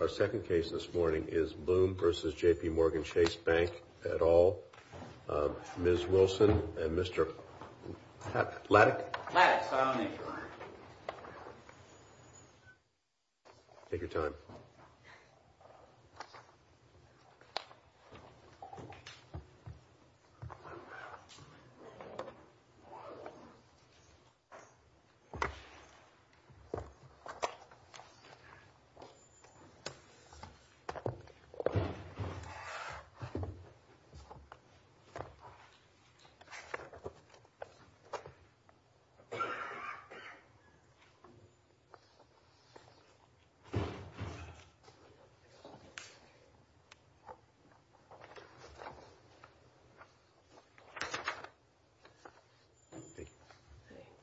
Our second case this morning is Bloom v. J.P. Morgan Chase Bank et al., Ms. Wilson and Mr. Lattic? Lattic. Take your time.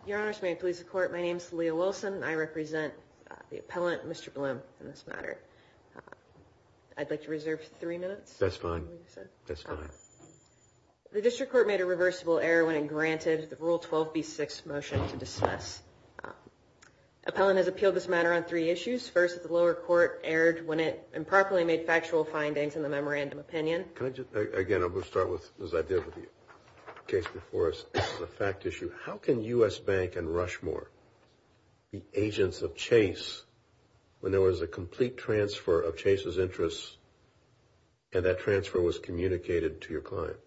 Your Honor, may it please the Court, my name is Leah Wilson. I represent the appellant, Mr. Bloom, in this matter. I'd like to reserve three minutes. That's fine. That's fine. The District Court made a reversible error when it granted the Rule 12b-6 motion to dismiss. Appellant has appealed this matter on three issues. First, the lower court erred when it improperly made factual findings in the memorandum opinion. Again, I'm going to start with, as I did with the case before us, the fact issue. How can U.S. Bank and Rushmore be agents of Chase when there was a complete transfer of Chase's interests and that transfer was communicated to your client?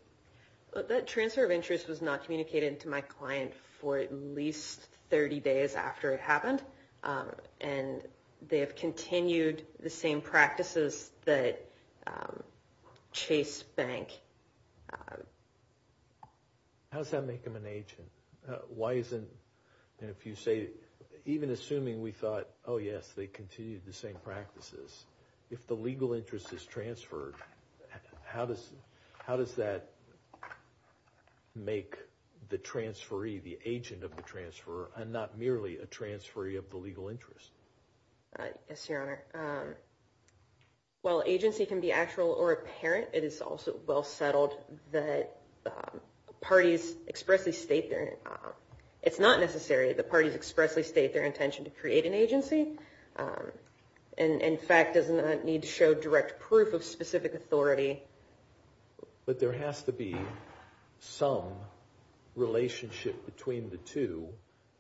That transfer of interest was not communicated to my client for at least 30 days after it happened, and they have continued the same practices that Chase Bank... How does that make them an agent? Why isn't... And if you say, even assuming we thought, oh, yes, they continued the same practices, if the legal interest is transferred, how does that make the transferee the agent of the transfer and not merely a transferee of the legal interest? Yes, Your Honor. While agency can be actual or apparent, it is also well settled that parties expressly state their... It's not necessary that parties expressly state their intention to create an agency. In fact, it does not need to show direct proof of specific authority. But there has to be some relationship between the two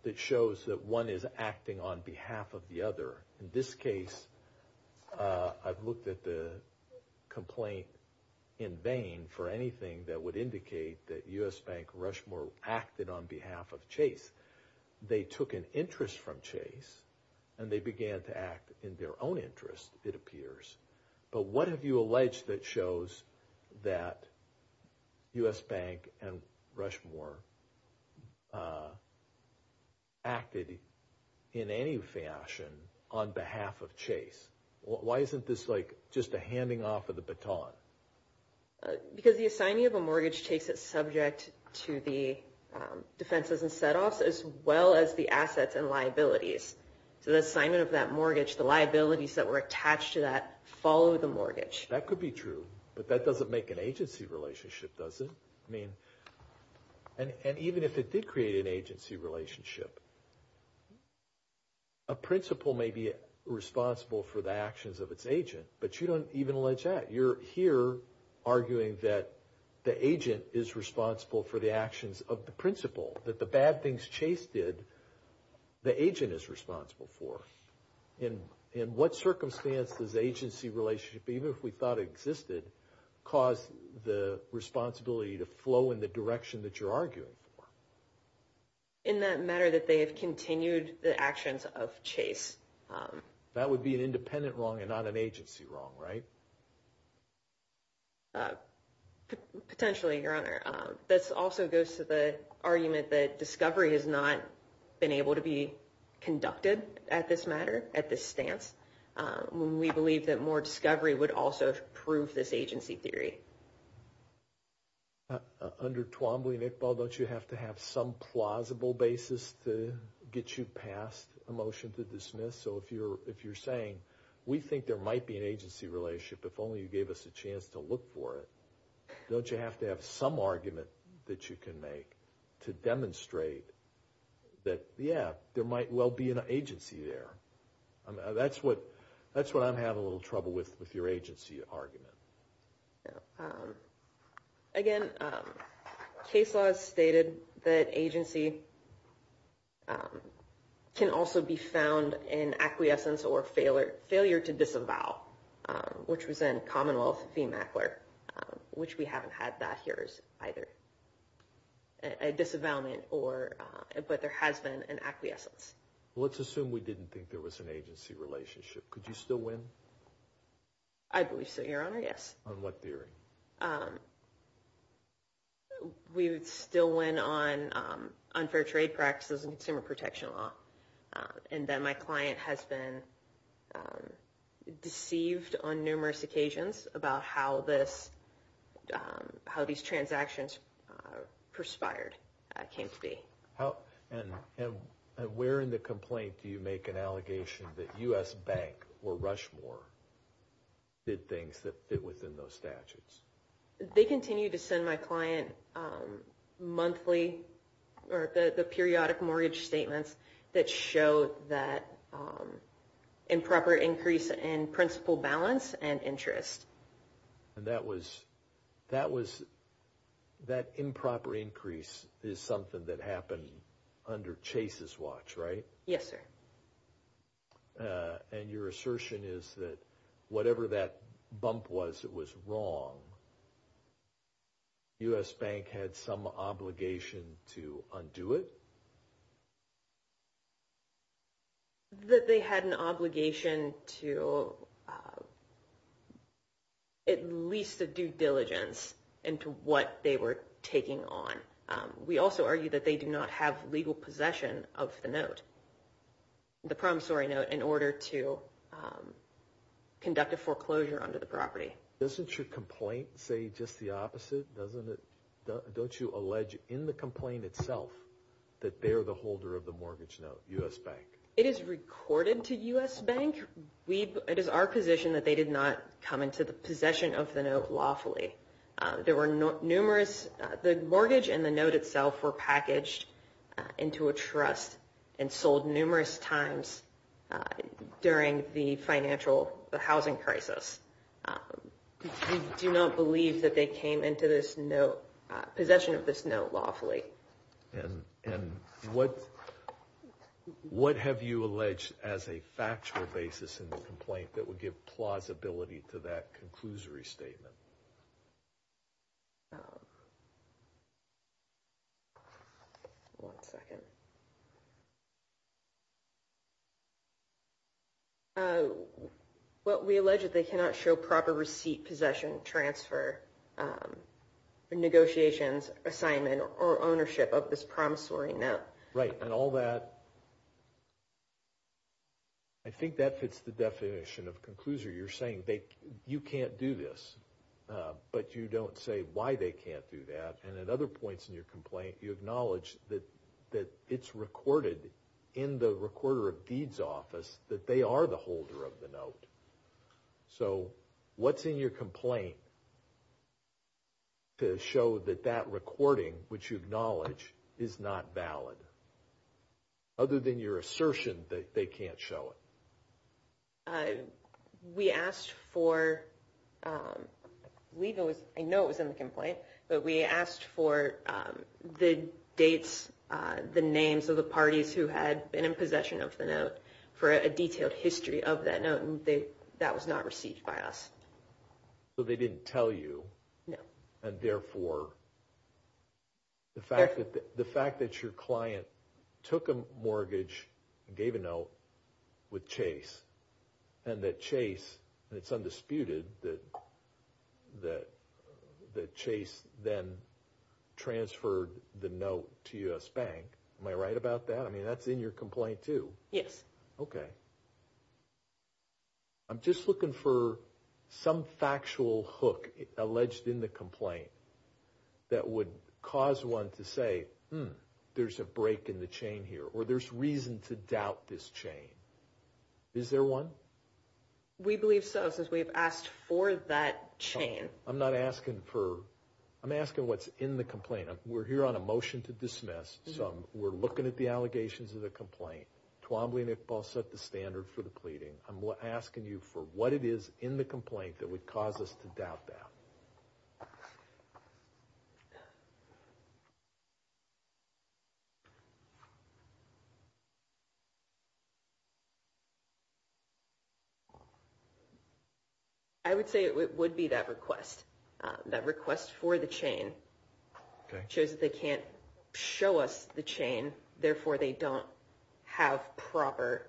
that shows that one is acting on behalf of the other. In this case, I've looked at the complaint in vain for anything that would indicate that U.S. Bank and Rushmore acted on behalf of Chase. They took an interest from Chase and they began to act in their own interest, it appears. But what have you alleged that shows that U.S. Bank and Rushmore acted in any fashion on behalf of Chase? Why isn't this like just a handing off of the baton? Because the assignment of a mortgage takes it subject to the defenses and set-offs, So the assignment of that mortgage, the liabilities that were attached to that, follow the mortgage. That could be true, but that doesn't make an agency relationship, does it? I mean, and even if it did create an agency relationship, a principal may be responsible for the actions of its agent, but you don't even allege that. You're here arguing that the agent is responsible for the actions of the principal, that the bad things Chase did, the agent is responsible for. In what circumstance does agency relationship, even if we thought it existed, cause the responsibility to flow in the direction that you're arguing for? In that matter that they have continued the actions of Chase. That would be an independent wrong and not an agency wrong, right? Potentially, Your Honor. This also goes to the argument that discovery has not been able to be conducted at this matter, at this stance. We believe that more discovery would also prove this agency theory. Under Twombly, Nick Ball, don't you have to have some plausible basis to get you past a motion to dismiss? So if you're saying, we think there might be an agency relationship, if only you gave us a chance to look for it, don't you have to have some argument that you can make to demonstrate that, yeah, there might well be an agency there? That's what I'm having a little trouble with, with your agency argument. Again, case laws stated that agency can also be found in acquiescence or failure to disavow, which was in Commonwealth v. Mackler, which we haven't had that here either. A disavowment, but there has been an acquiescence. Let's assume we didn't think there was an agency relationship. Could you still win? I believe so, Your Honor, yes. On what theory? We would still win on unfair trade practices and consumer protection law, and that my client has been deceived on numerous occasions about how these transactions perspired, came to be. And where in the complaint do you make an allegation that U.S. Bank or Rushmore did things that fit within those statutes? They continue to send my client monthly, or the periodic mortgage statements, that show that improper increase in principal balance and interest. And that improper increase is something that happened under Chase's watch, right? Yes, sir. And your assertion is that whatever that bump was, it was wrong. U.S. Bank had some obligation to undo it? That they had an obligation to at least a due diligence into what they were taking on. We also argue that they do not have legal possession of the note, the promissory note, in order to conduct a foreclosure under the property. Doesn't your complaint say just the opposite? Don't you allege in the complaint itself that they're the holder of the mortgage note, U.S. Bank? It is recorded to U.S. Bank. It is our position that they did not come into the possession of the note lawfully. The mortgage and the note itself were packaged into a trust and sold numerous times during the financial housing crisis. We do not believe that they came into possession of this note lawfully. And what have you alleged as a factual basis in the complaint that would give plausibility to that conclusory statement? One second. What we allege is they cannot show proper receipt, possession, transfer, negotiations, assignment, or ownership of this promissory note. Right. And all that... I think that fits the definition of conclusory. You're saying you can't do this, but you don't say why they can't do that. And at other points in your complaint, you acknowledge that it's recorded in the recorder of deeds office that they are the holder of the note. So what's in your complaint to show that that recording, which you acknowledge, is not valid? Other than your assertion that they can't show it. We asked for... I know it was in the complaint, but we asked for the dates, the names of the parties who had been in possession of the note, for a detailed history of that note. And that was not received by us. So they didn't tell you. No. And therefore, the fact that your client took a mortgage and gave a note with Chase, and that Chase, it's undisputed that Chase then transferred the note to U.S. Bank. Am I right about that? I mean, that's in your complaint too. Yes. Okay. I'm just looking for some factual hook alleged in the complaint that would cause one to say, hmm, there's a break in the chain here, or there's reason to doubt this chain. Is there one? We believe so, since we've asked for that chain. I'm not asking for... I'm asking what's in the complaint. We're here on a motion to dismiss, so we're looking at the allegations of the complaint. Twombly and Iqbal set the standard for the pleading. I'm asking you for what it is in the complaint that would cause us to doubt that. I would say it would be that request, that request for the chain. Okay. It shows that they can't show us the chain. Therefore, they don't have proper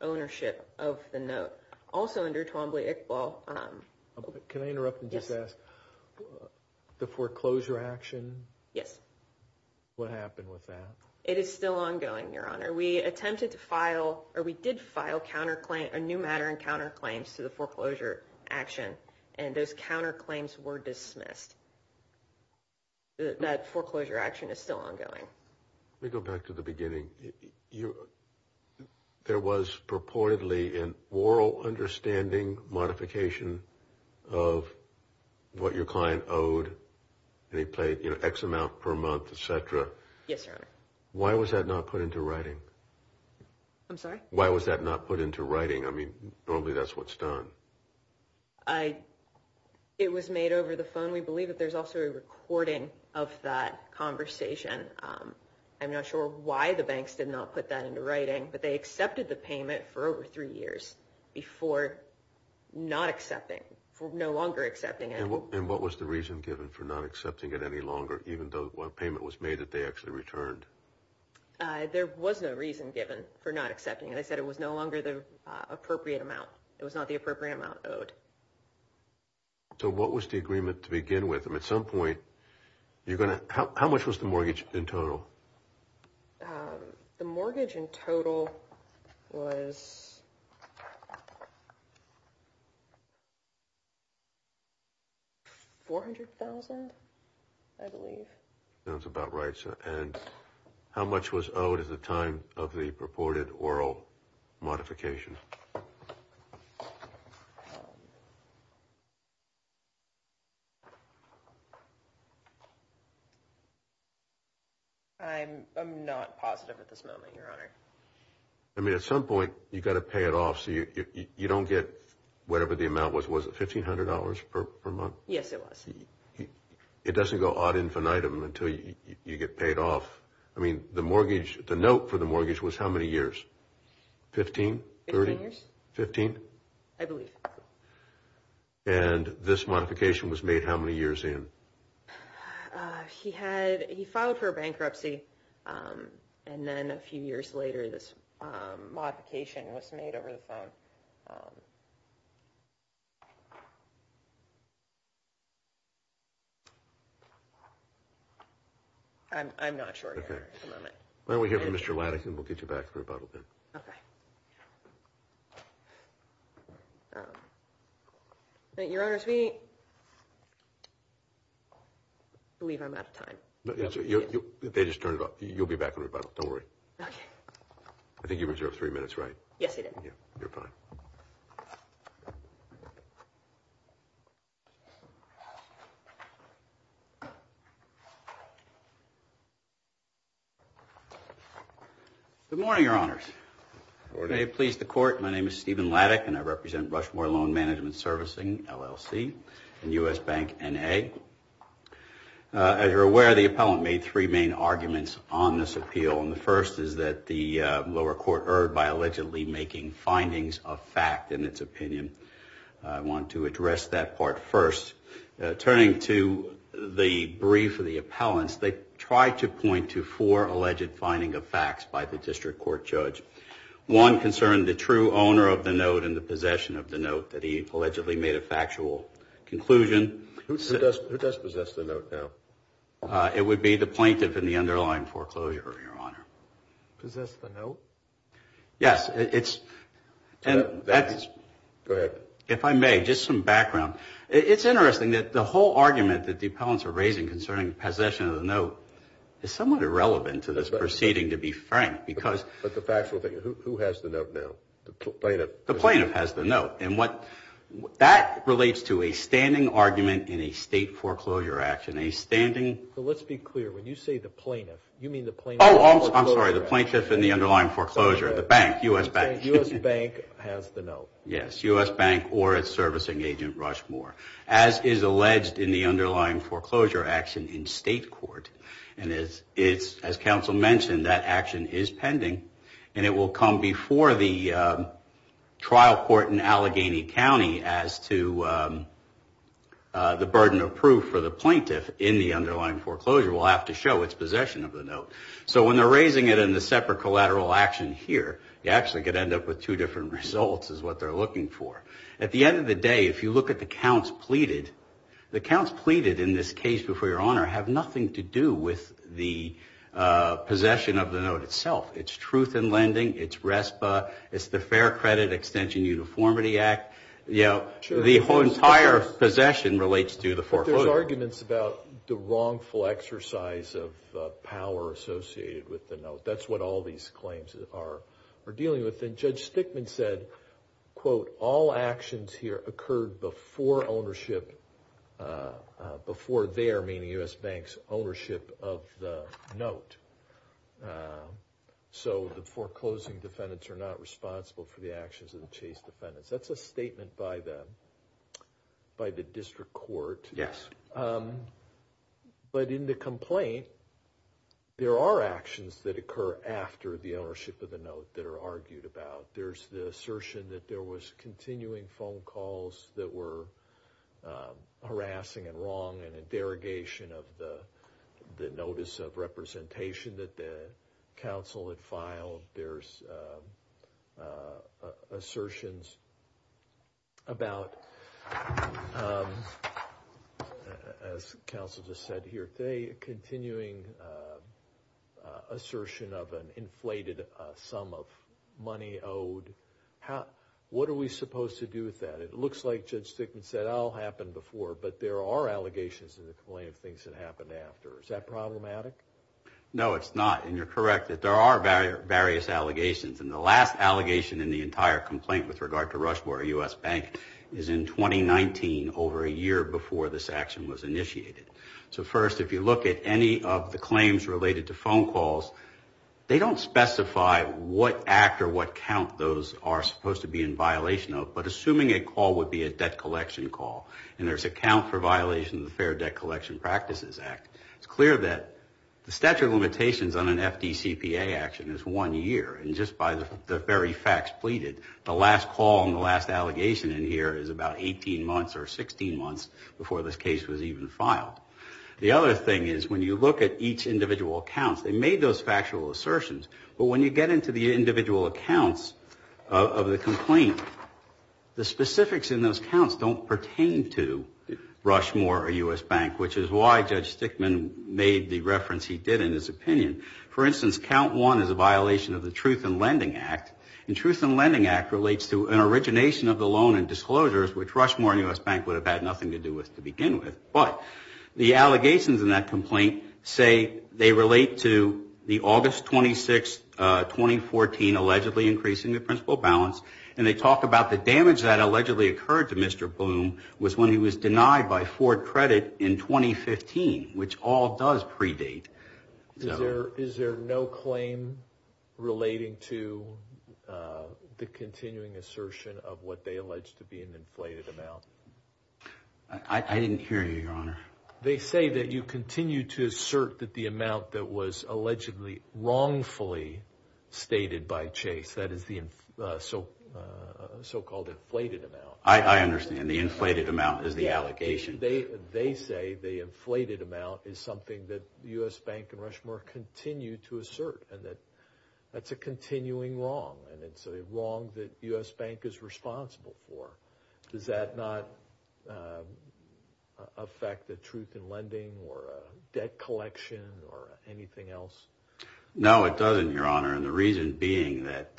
ownership of the note. Also, under Twombly, Iqbal... Can I interrupt and just ask? Yes. The foreclosure action? Yes. What happened with that? It is still ongoing, Your Honor. We attempted to file, or we did file counterclaim, a new matter in counterclaims to the foreclosure action, and those counterclaims were dismissed. That foreclosure action is still ongoing. Let me go back to the beginning. There was purportedly an oral understanding modification of what your client owed, and he paid X amount per month, et cetera. Yes, Your Honor. Why was that not put into writing? I'm sorry? Why was that not put into writing? I mean, normally that's what's done. It was made over the phone. We believe that there's also a recording of that conversation. I'm not sure why the banks did not put that into writing, but they accepted the payment for over three years before not accepting, for no longer accepting it. And what was the reason given for not accepting it any longer, even though a payment was made that they actually returned? There was no reason given for not accepting it. They said it was no longer the appropriate amount. It was not the appropriate amount owed. So what was the agreement to begin with? I mean, at some point you're going to – how much was the mortgage in total? The mortgage in total was $400,000, I believe. Sounds about right. And how much was owed at the time of the purported oral modification? I'm not positive at this moment, Your Honor. I mean, at some point you've got to pay it off, so you don't get whatever the amount was. Was it $1,500 per month? Yes, it was. It doesn't go ad infinitum until you get paid off. I mean, the note for the mortgage was how many years? 15? 15 years. 15? I believe. And this modification was made how many years in? He had – he filed for bankruptcy, and then a few years later this modification was made over the phone. I'm not sure here at the moment. Why don't we hear from Mr. Lannigan? We'll get you back to rebuttal then. Okay. Your Honors, we believe I'm out of time. They just turned it off. You'll be back in rebuttal. Don't worry. Okay. I think you reserved three minutes, right? Yes, I did. You're fine. Thank you. Good morning, Your Honors. Good morning. May it please the Court, my name is Stephen Laddick, and I represent Rushmore Loan Management Servicing, LLC, and U.S. Bank, N.A. As you're aware, the appellant made three main arguments on this appeal, and the first is that the lower court erred by allegedly making findings of fact in its opinion. I want to address that part first. Turning to the brief of the appellants, they tried to point to four alleged finding of facts by the district court judge. One concerned the true owner of the note and the possession of the note that he allegedly made a factual conclusion. Who does possess the note, though? It would be the plaintiff in the underlying foreclosure, Your Honor. Possess the note? Yes. Go ahead. If I may, just some background. It's interesting that the whole argument that the appellants are raising concerning possession of the note is somewhat irrelevant to this proceeding, to be frank, because the plaintiff has the note, and that relates to a standing argument in a state foreclosure action. Let's be clear. When you say the plaintiff, you mean the plaintiff in the underlying foreclosure? The bank, U.S. Bank. U.S. Bank has the note. Yes, U.S. Bank or its servicing agent, Rushmore. As is alleged in the underlying foreclosure action in state court, and as counsel mentioned, that action is pending, and it will come before the trial court in Allegheny County as to the burden of proof for the plaintiff in the underlying foreclosure. We'll have to show its possession of the note. So when they're raising it in the separate collateral action here, you actually could end up with two different results is what they're looking for. At the end of the day, if you look at the counts pleaded, the counts pleaded in this case before your honor have nothing to do with the possession of the note itself. It's truth in lending. It's RESPA. It's the Fair Credit Extension Uniformity Act. You know, the whole entire possession relates to the foreclosure. There's arguments about the wrongful exercise of power associated with the note. That's what all these claims are dealing with. And Judge Stickman said, quote, all actions here occurred before ownership, before their, meaning U.S. Bank's, ownership of the note. So the foreclosing defendants are not responsible for the actions of the chase defendants. That's a statement by the district court. Yes. But in the complaint, there are actions that occur after the ownership of the note that are argued about. There's the assertion that there was continuing phone calls that were harassing and wrong and a derogation of the notice of representation that the council had filed. There's assertions about, as counsel just said here today, a continuing assertion of an inflated sum of money owed. What are we supposed to do with that? It looks like Judge Stickman said it all happened before, but there are allegations in the complaint of things that happened after. Is that problematic? No, it's not. And you're correct. There are various allegations. And the last allegation in the entire complaint with regard to Rushmore U.S. Bank is in 2019, over a year before this action was initiated. So first, if you look at any of the claims related to phone calls, they don't specify what act or what count those are supposed to be in violation of, but assuming a call would be a debt collection call and there's a count for violation of the Fair Debt Collection Practices Act, it's clear that the statute of limitations on an FDCPA action is one year. And just by the very facts pleaded, the last call and the last allegation in here is about 18 months or 16 months before this case was even filed. The other thing is when you look at each individual count, they made those factual assertions, but when you get into the individual accounts of the complaint, the specifics in those counts don't pertain to Rushmore or U.S. Bank, which is why Judge Stickman made the reference he did in his opinion. For instance, count one is a violation of the Truth in Lending Act. And Truth in Lending Act relates to an origination of the loan and disclosures, which Rushmore and U.S. Bank would have had nothing to do with to begin with. But the allegations in that complaint say they relate to the August 26, 2014, allegedly increasing the principal balance. And they talk about the damage that allegedly occurred to Mr. Bloom was when he was denied by Ford Credit in 2015, which all does predate. Is there no claim relating to the continuing assertion of what they allege to be an inflated amount? I didn't hear you, Your Honor. They say that you continue to assert that the amount that was allegedly wrongfully stated by Chase, what it said is the so-called inflated amount. I understand. The inflated amount is the allegation. They say the inflated amount is something that U.S. Bank and Rushmore continue to assert, and that that's a continuing wrong, and it's a wrong that U.S. Bank is responsible for. Does that not affect the truth in lending or debt collection or anything else? No, it doesn't, Your Honor, and the reason being that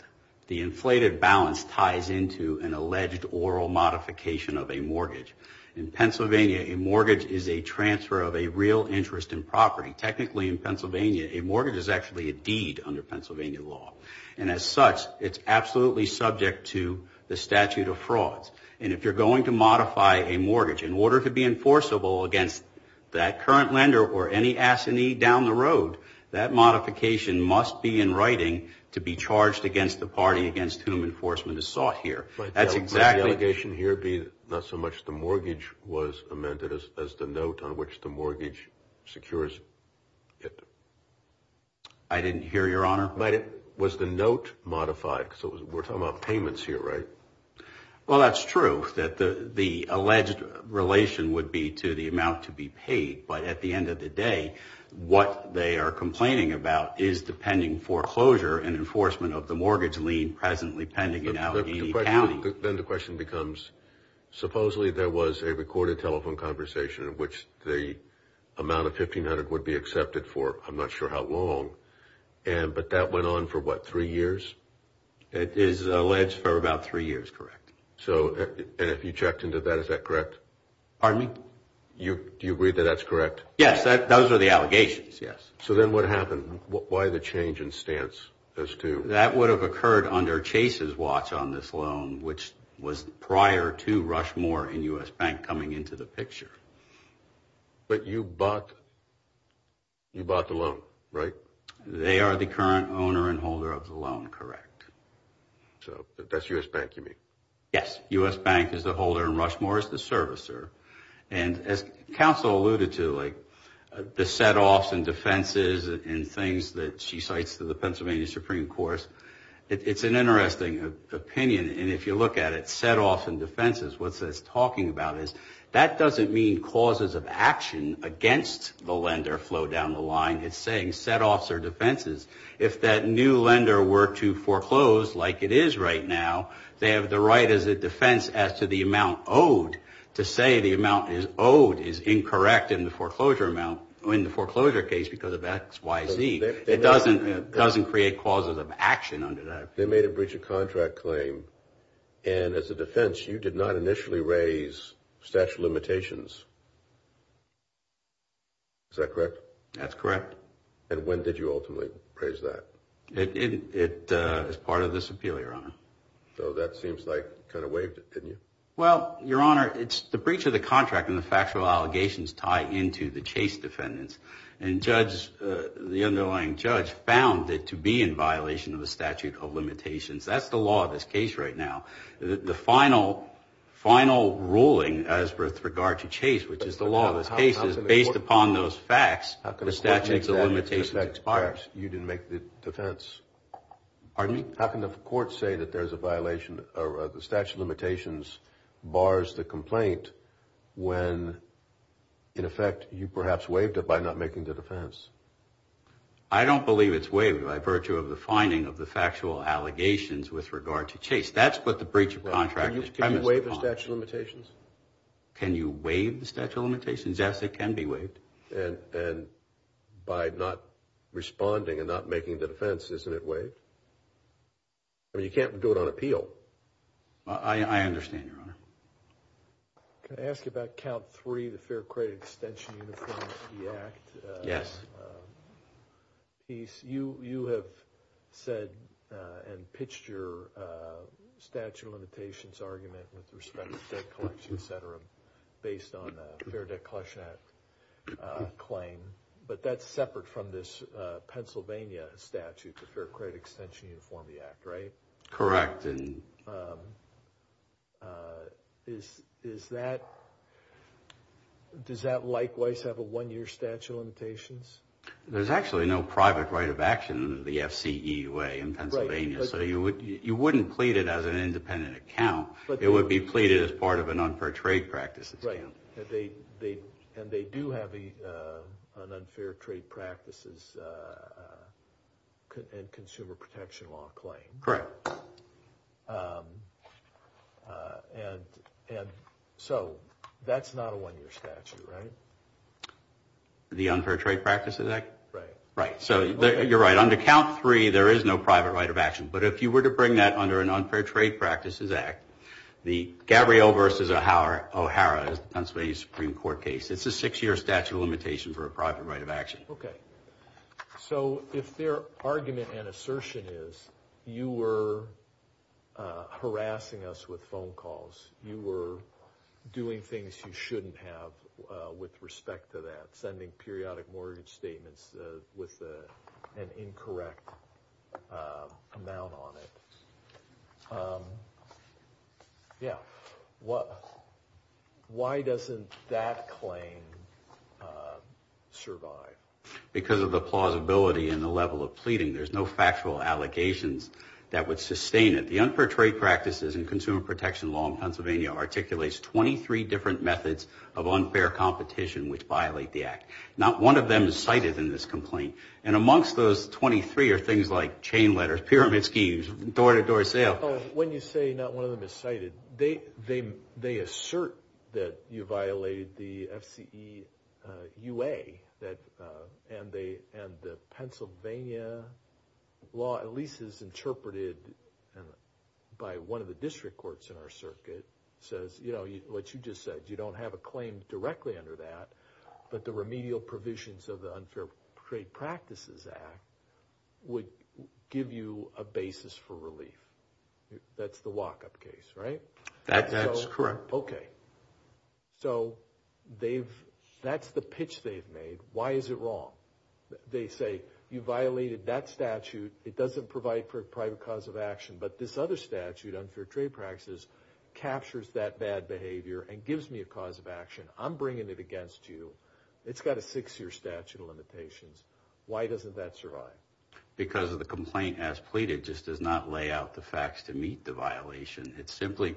the inflated balance ties into an alleged oral modification of a mortgage. In Pennsylvania, a mortgage is a transfer of a real interest in property. Technically, in Pennsylvania, a mortgage is actually a deed under Pennsylvania law. And as such, it's absolutely subject to the statute of frauds. And if you're going to modify a mortgage in order to be enforceable against that current lender or any assinee down the road, that modification must be in writing to be charged against the party against whom enforcement is sought here. Might the allegation here be not so much the mortgage was amended as the note on which the mortgage secures it? I didn't hear, Your Honor. Was the note modified? So we're talking about payments here, right? Well, that's true, that the alleged relation would be to the amount to be paid. But at the end of the day, what they are complaining about is the pending foreclosure and enforcement of the mortgage lien presently pending in Allegheny County. Then the question becomes, supposedly there was a recorded telephone conversation in which the amount of $1,500 would be accepted for I'm not sure how long. But that went on for, what, three years? It is alleged for about three years, correct. And if you checked into that, is that correct? Pardon me? Do you agree that that's correct? Yes, those are the allegations, yes. So then what happened? Why the change in stance as to? That would have occurred under Chase's watch on this loan, which was prior to Rushmore and U.S. Bank coming into the picture. But you bought the loan, right? They are the current owner and holder of the loan, correct. So that's U.S. Bank you mean? Yes, U.S. Bank is the holder and Rushmore is the servicer. And as counsel alluded to, like the setoffs and defenses and things that she cites to the Pennsylvania Supreme Court, it's an interesting opinion. And if you look at it, setoffs and defenses, what it's talking about is that doesn't mean causes of action against the lender flow down the line. It's saying setoffs or defenses. If that new lender were to foreclose like it is right now, they have the right as a defense as to the amount owed. To say the amount is owed is incorrect in the foreclosure amount, in the foreclosure case because of X, Y, Z. It doesn't create causes of action under that. They made a breach of contract claim. And as a defense, you did not initially raise statute of limitations. Is that correct? That's correct. And when did you ultimately raise that? It's part of this appeal, Your Honor. So that seems like you kind of waived it, didn't you? Well, Your Honor, it's the breach of the contract and the factual allegations tie into the Chase defendants. And the underlying judge found it to be in violation of the statute of limitations. That's the law of this case right now. The final ruling as with regard to Chase, which is the law of this case, is based upon those facts, the statute of limitations expires. Perhaps you didn't make the defense. Pardon me? How can the court say that there's a violation or the statute of limitations bars the complaint when, in effect, you perhaps waived it by not making the defense? I don't believe it's waived by virtue of the finding of the factual allegations with regard to Chase. That's what the breach of contract is premised upon. Can you waive the statute of limitations? Can you waive the statute of limitations? Yes, it can be waived. And by not responding and not making the defense, isn't it waived? I mean, you can't do it on appeal. I understand, Your Honor. Can I ask you about count three, the Fair Credit Extension Uniformity Act? Yes. You have said and pitched your statute of limitations argument with respect to debt collection, et cetera, based on the Fair Debt Collection Act claim, but that's separate from this Pennsylvania statute, the Fair Credit Extension Uniformity Act, right? Correct. Does that likewise have a one-year statute of limitations? There's actually no private right of action in the FCEA in Pennsylvania, so you wouldn't plead it as an independent account. It would be pleaded as part of an unfair trade practices account. Right. And they do have an unfair trade practices and consumer protection law claim. Correct. So that's not a one-year statute, right? The Unfair Trade Practices Act? Right. So you're right. Under count three, there is no private right of action, but if you were to bring that under an unfair trade practices act, the Gabrielle versus O'Hara Pennsylvania Supreme Court case, it's a six-year statute of limitations for a private right of action. Okay. So if their argument and assertion is you were harassing us with phone calls, you were doing things you shouldn't have with respect to that, you were sending periodic mortgage statements with an incorrect amount on it. Yeah. Why doesn't that claim survive? Because of the plausibility and the level of pleading. There's no factual allegations that would sustain it. The unfair trade practices and consumer protection law in Pennsylvania articulates 23 different methods of unfair competition which violate the act. Not one of them is cited in this complaint. And amongst those 23 are things like chain letters, pyramid schemes, door-to-door sale. When you say not one of them is cited, they assert that you violated the FCEUA, and the Pennsylvania law at least is interpreted by one of the district courts in our circuit, says what you just said. You don't have a claim directly under that, but the remedial provisions of the Unfair Trade Practices Act would give you a basis for relief. That's the walk-up case, right? That's correct. Okay. So that's the pitch they've made. Why is it wrong? They say you violated that statute. It doesn't provide for a private cause of action. But this other statute, Unfair Trade Practices, captures that bad behavior and gives me a cause of action. I'm bringing it against you. It's got a six-year statute of limitations. Why doesn't that survive? Because the complaint as pleaded just does not lay out the facts to meet the violation. It simply,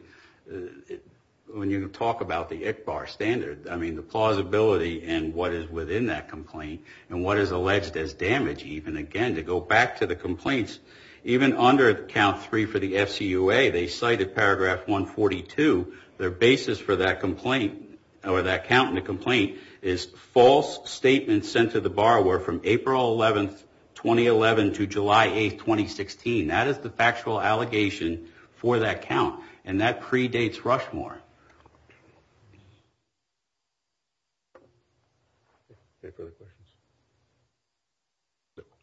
when you talk about the ICHBAR standard, I mean the plausibility in what is within that complaint and what is alleged as damage even, again, to go back to the complaints, even under count three for the FCUA, they cite at paragraph 142, their basis for that complaint or that count in the complaint is false statements sent to the borrower from April 11, 2011, to July 8, 2016. That is the factual allegation for that count, and that predates Rushmore. Any further questions?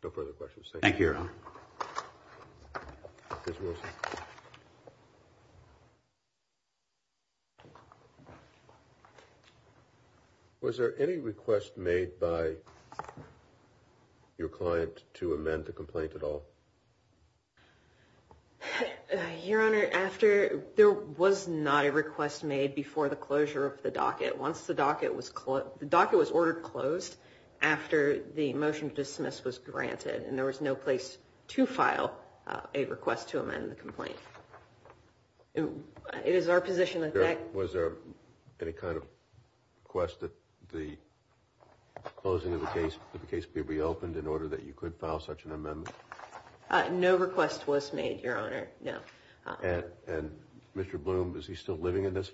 No further questions. Thank you, Your Honor. Was there any request made by your client to amend the complaint at all? Your Honor, there was not a request made before the closure of the docket. The docket was ordered closed after the motion to dismiss was granted, and there was no place to file a request to amend the complaint. Was there any kind of request that the closing of the case be reopened in order that you could file such an amendment? No request was made, Your Honor, no. And Mr. Bloom, is he still living in this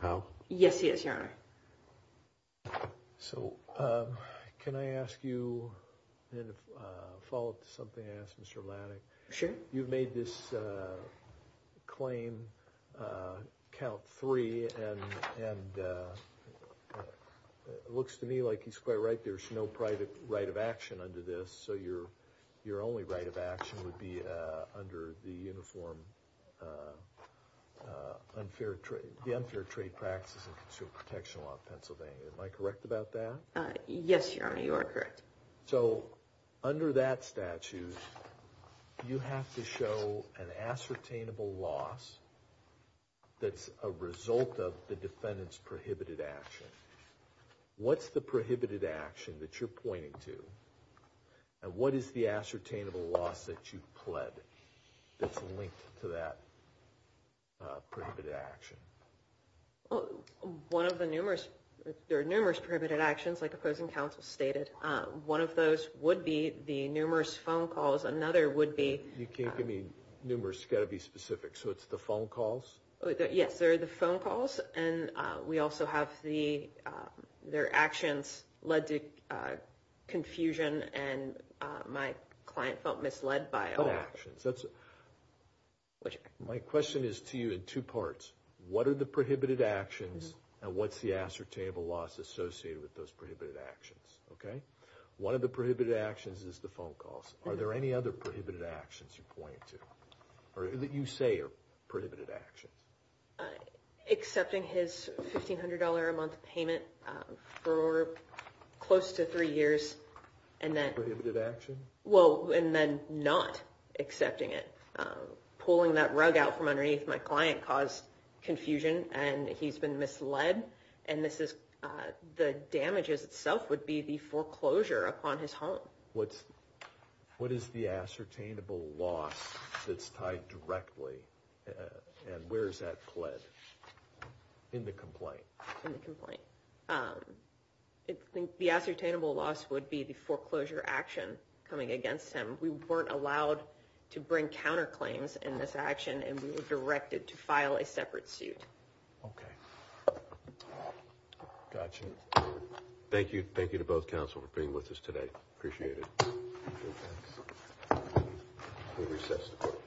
house? Yes, he is, Your Honor. So, can I ask you to follow up to something I asked Mr. Laddick? Sure. You've made this claim count three, and it looks to me like he's quite right. There's no private right of action under this, so your only right of action would be under the Unfair Trade Practices and Consumer Protection Law of Pennsylvania. Am I correct about that? Yes, Your Honor, you are correct. So, under that statute, you have to show an ascertainable loss that's a result of the defendant's prohibited action. What's the prohibited action that you're pointing to, and what is the ascertainable loss that you've pled that's linked to that prohibited action? Well, there are numerous prohibited actions, like opposing counsel stated. One of those would be the numerous phone calls. Another would be… You can't give me numerous. It's got to be specific. So, it's the phone calls? Yes, sir, the phone calls. And we also have their actions led to confusion, and my client felt misled by all actions. My question is to you in two parts. What are the prohibited actions, and what's the ascertainable loss associated with those prohibited actions? Okay? One of the prohibited actions is the phone calls. Are there any other prohibited actions you point to, or that you say are prohibited actions? Accepting his $1,500 a month payment for close to three years, and then… Prohibited action? Well, and then not accepting it. Pulling that rug out from underneath my client caused confusion, and he's been misled, and the damages itself would be the foreclosure upon his home. What is the ascertainable loss that's tied directly, and where is that pled in the complaint? In the complaint. The ascertainable loss would be the foreclosure action coming against him. We weren't allowed to bring counterclaims in this action, and we were directed to file a separate suit. Okay. Got you. Thank you. Thank you to both counsel for being with us today. Appreciate it. We recess the court. Thank you.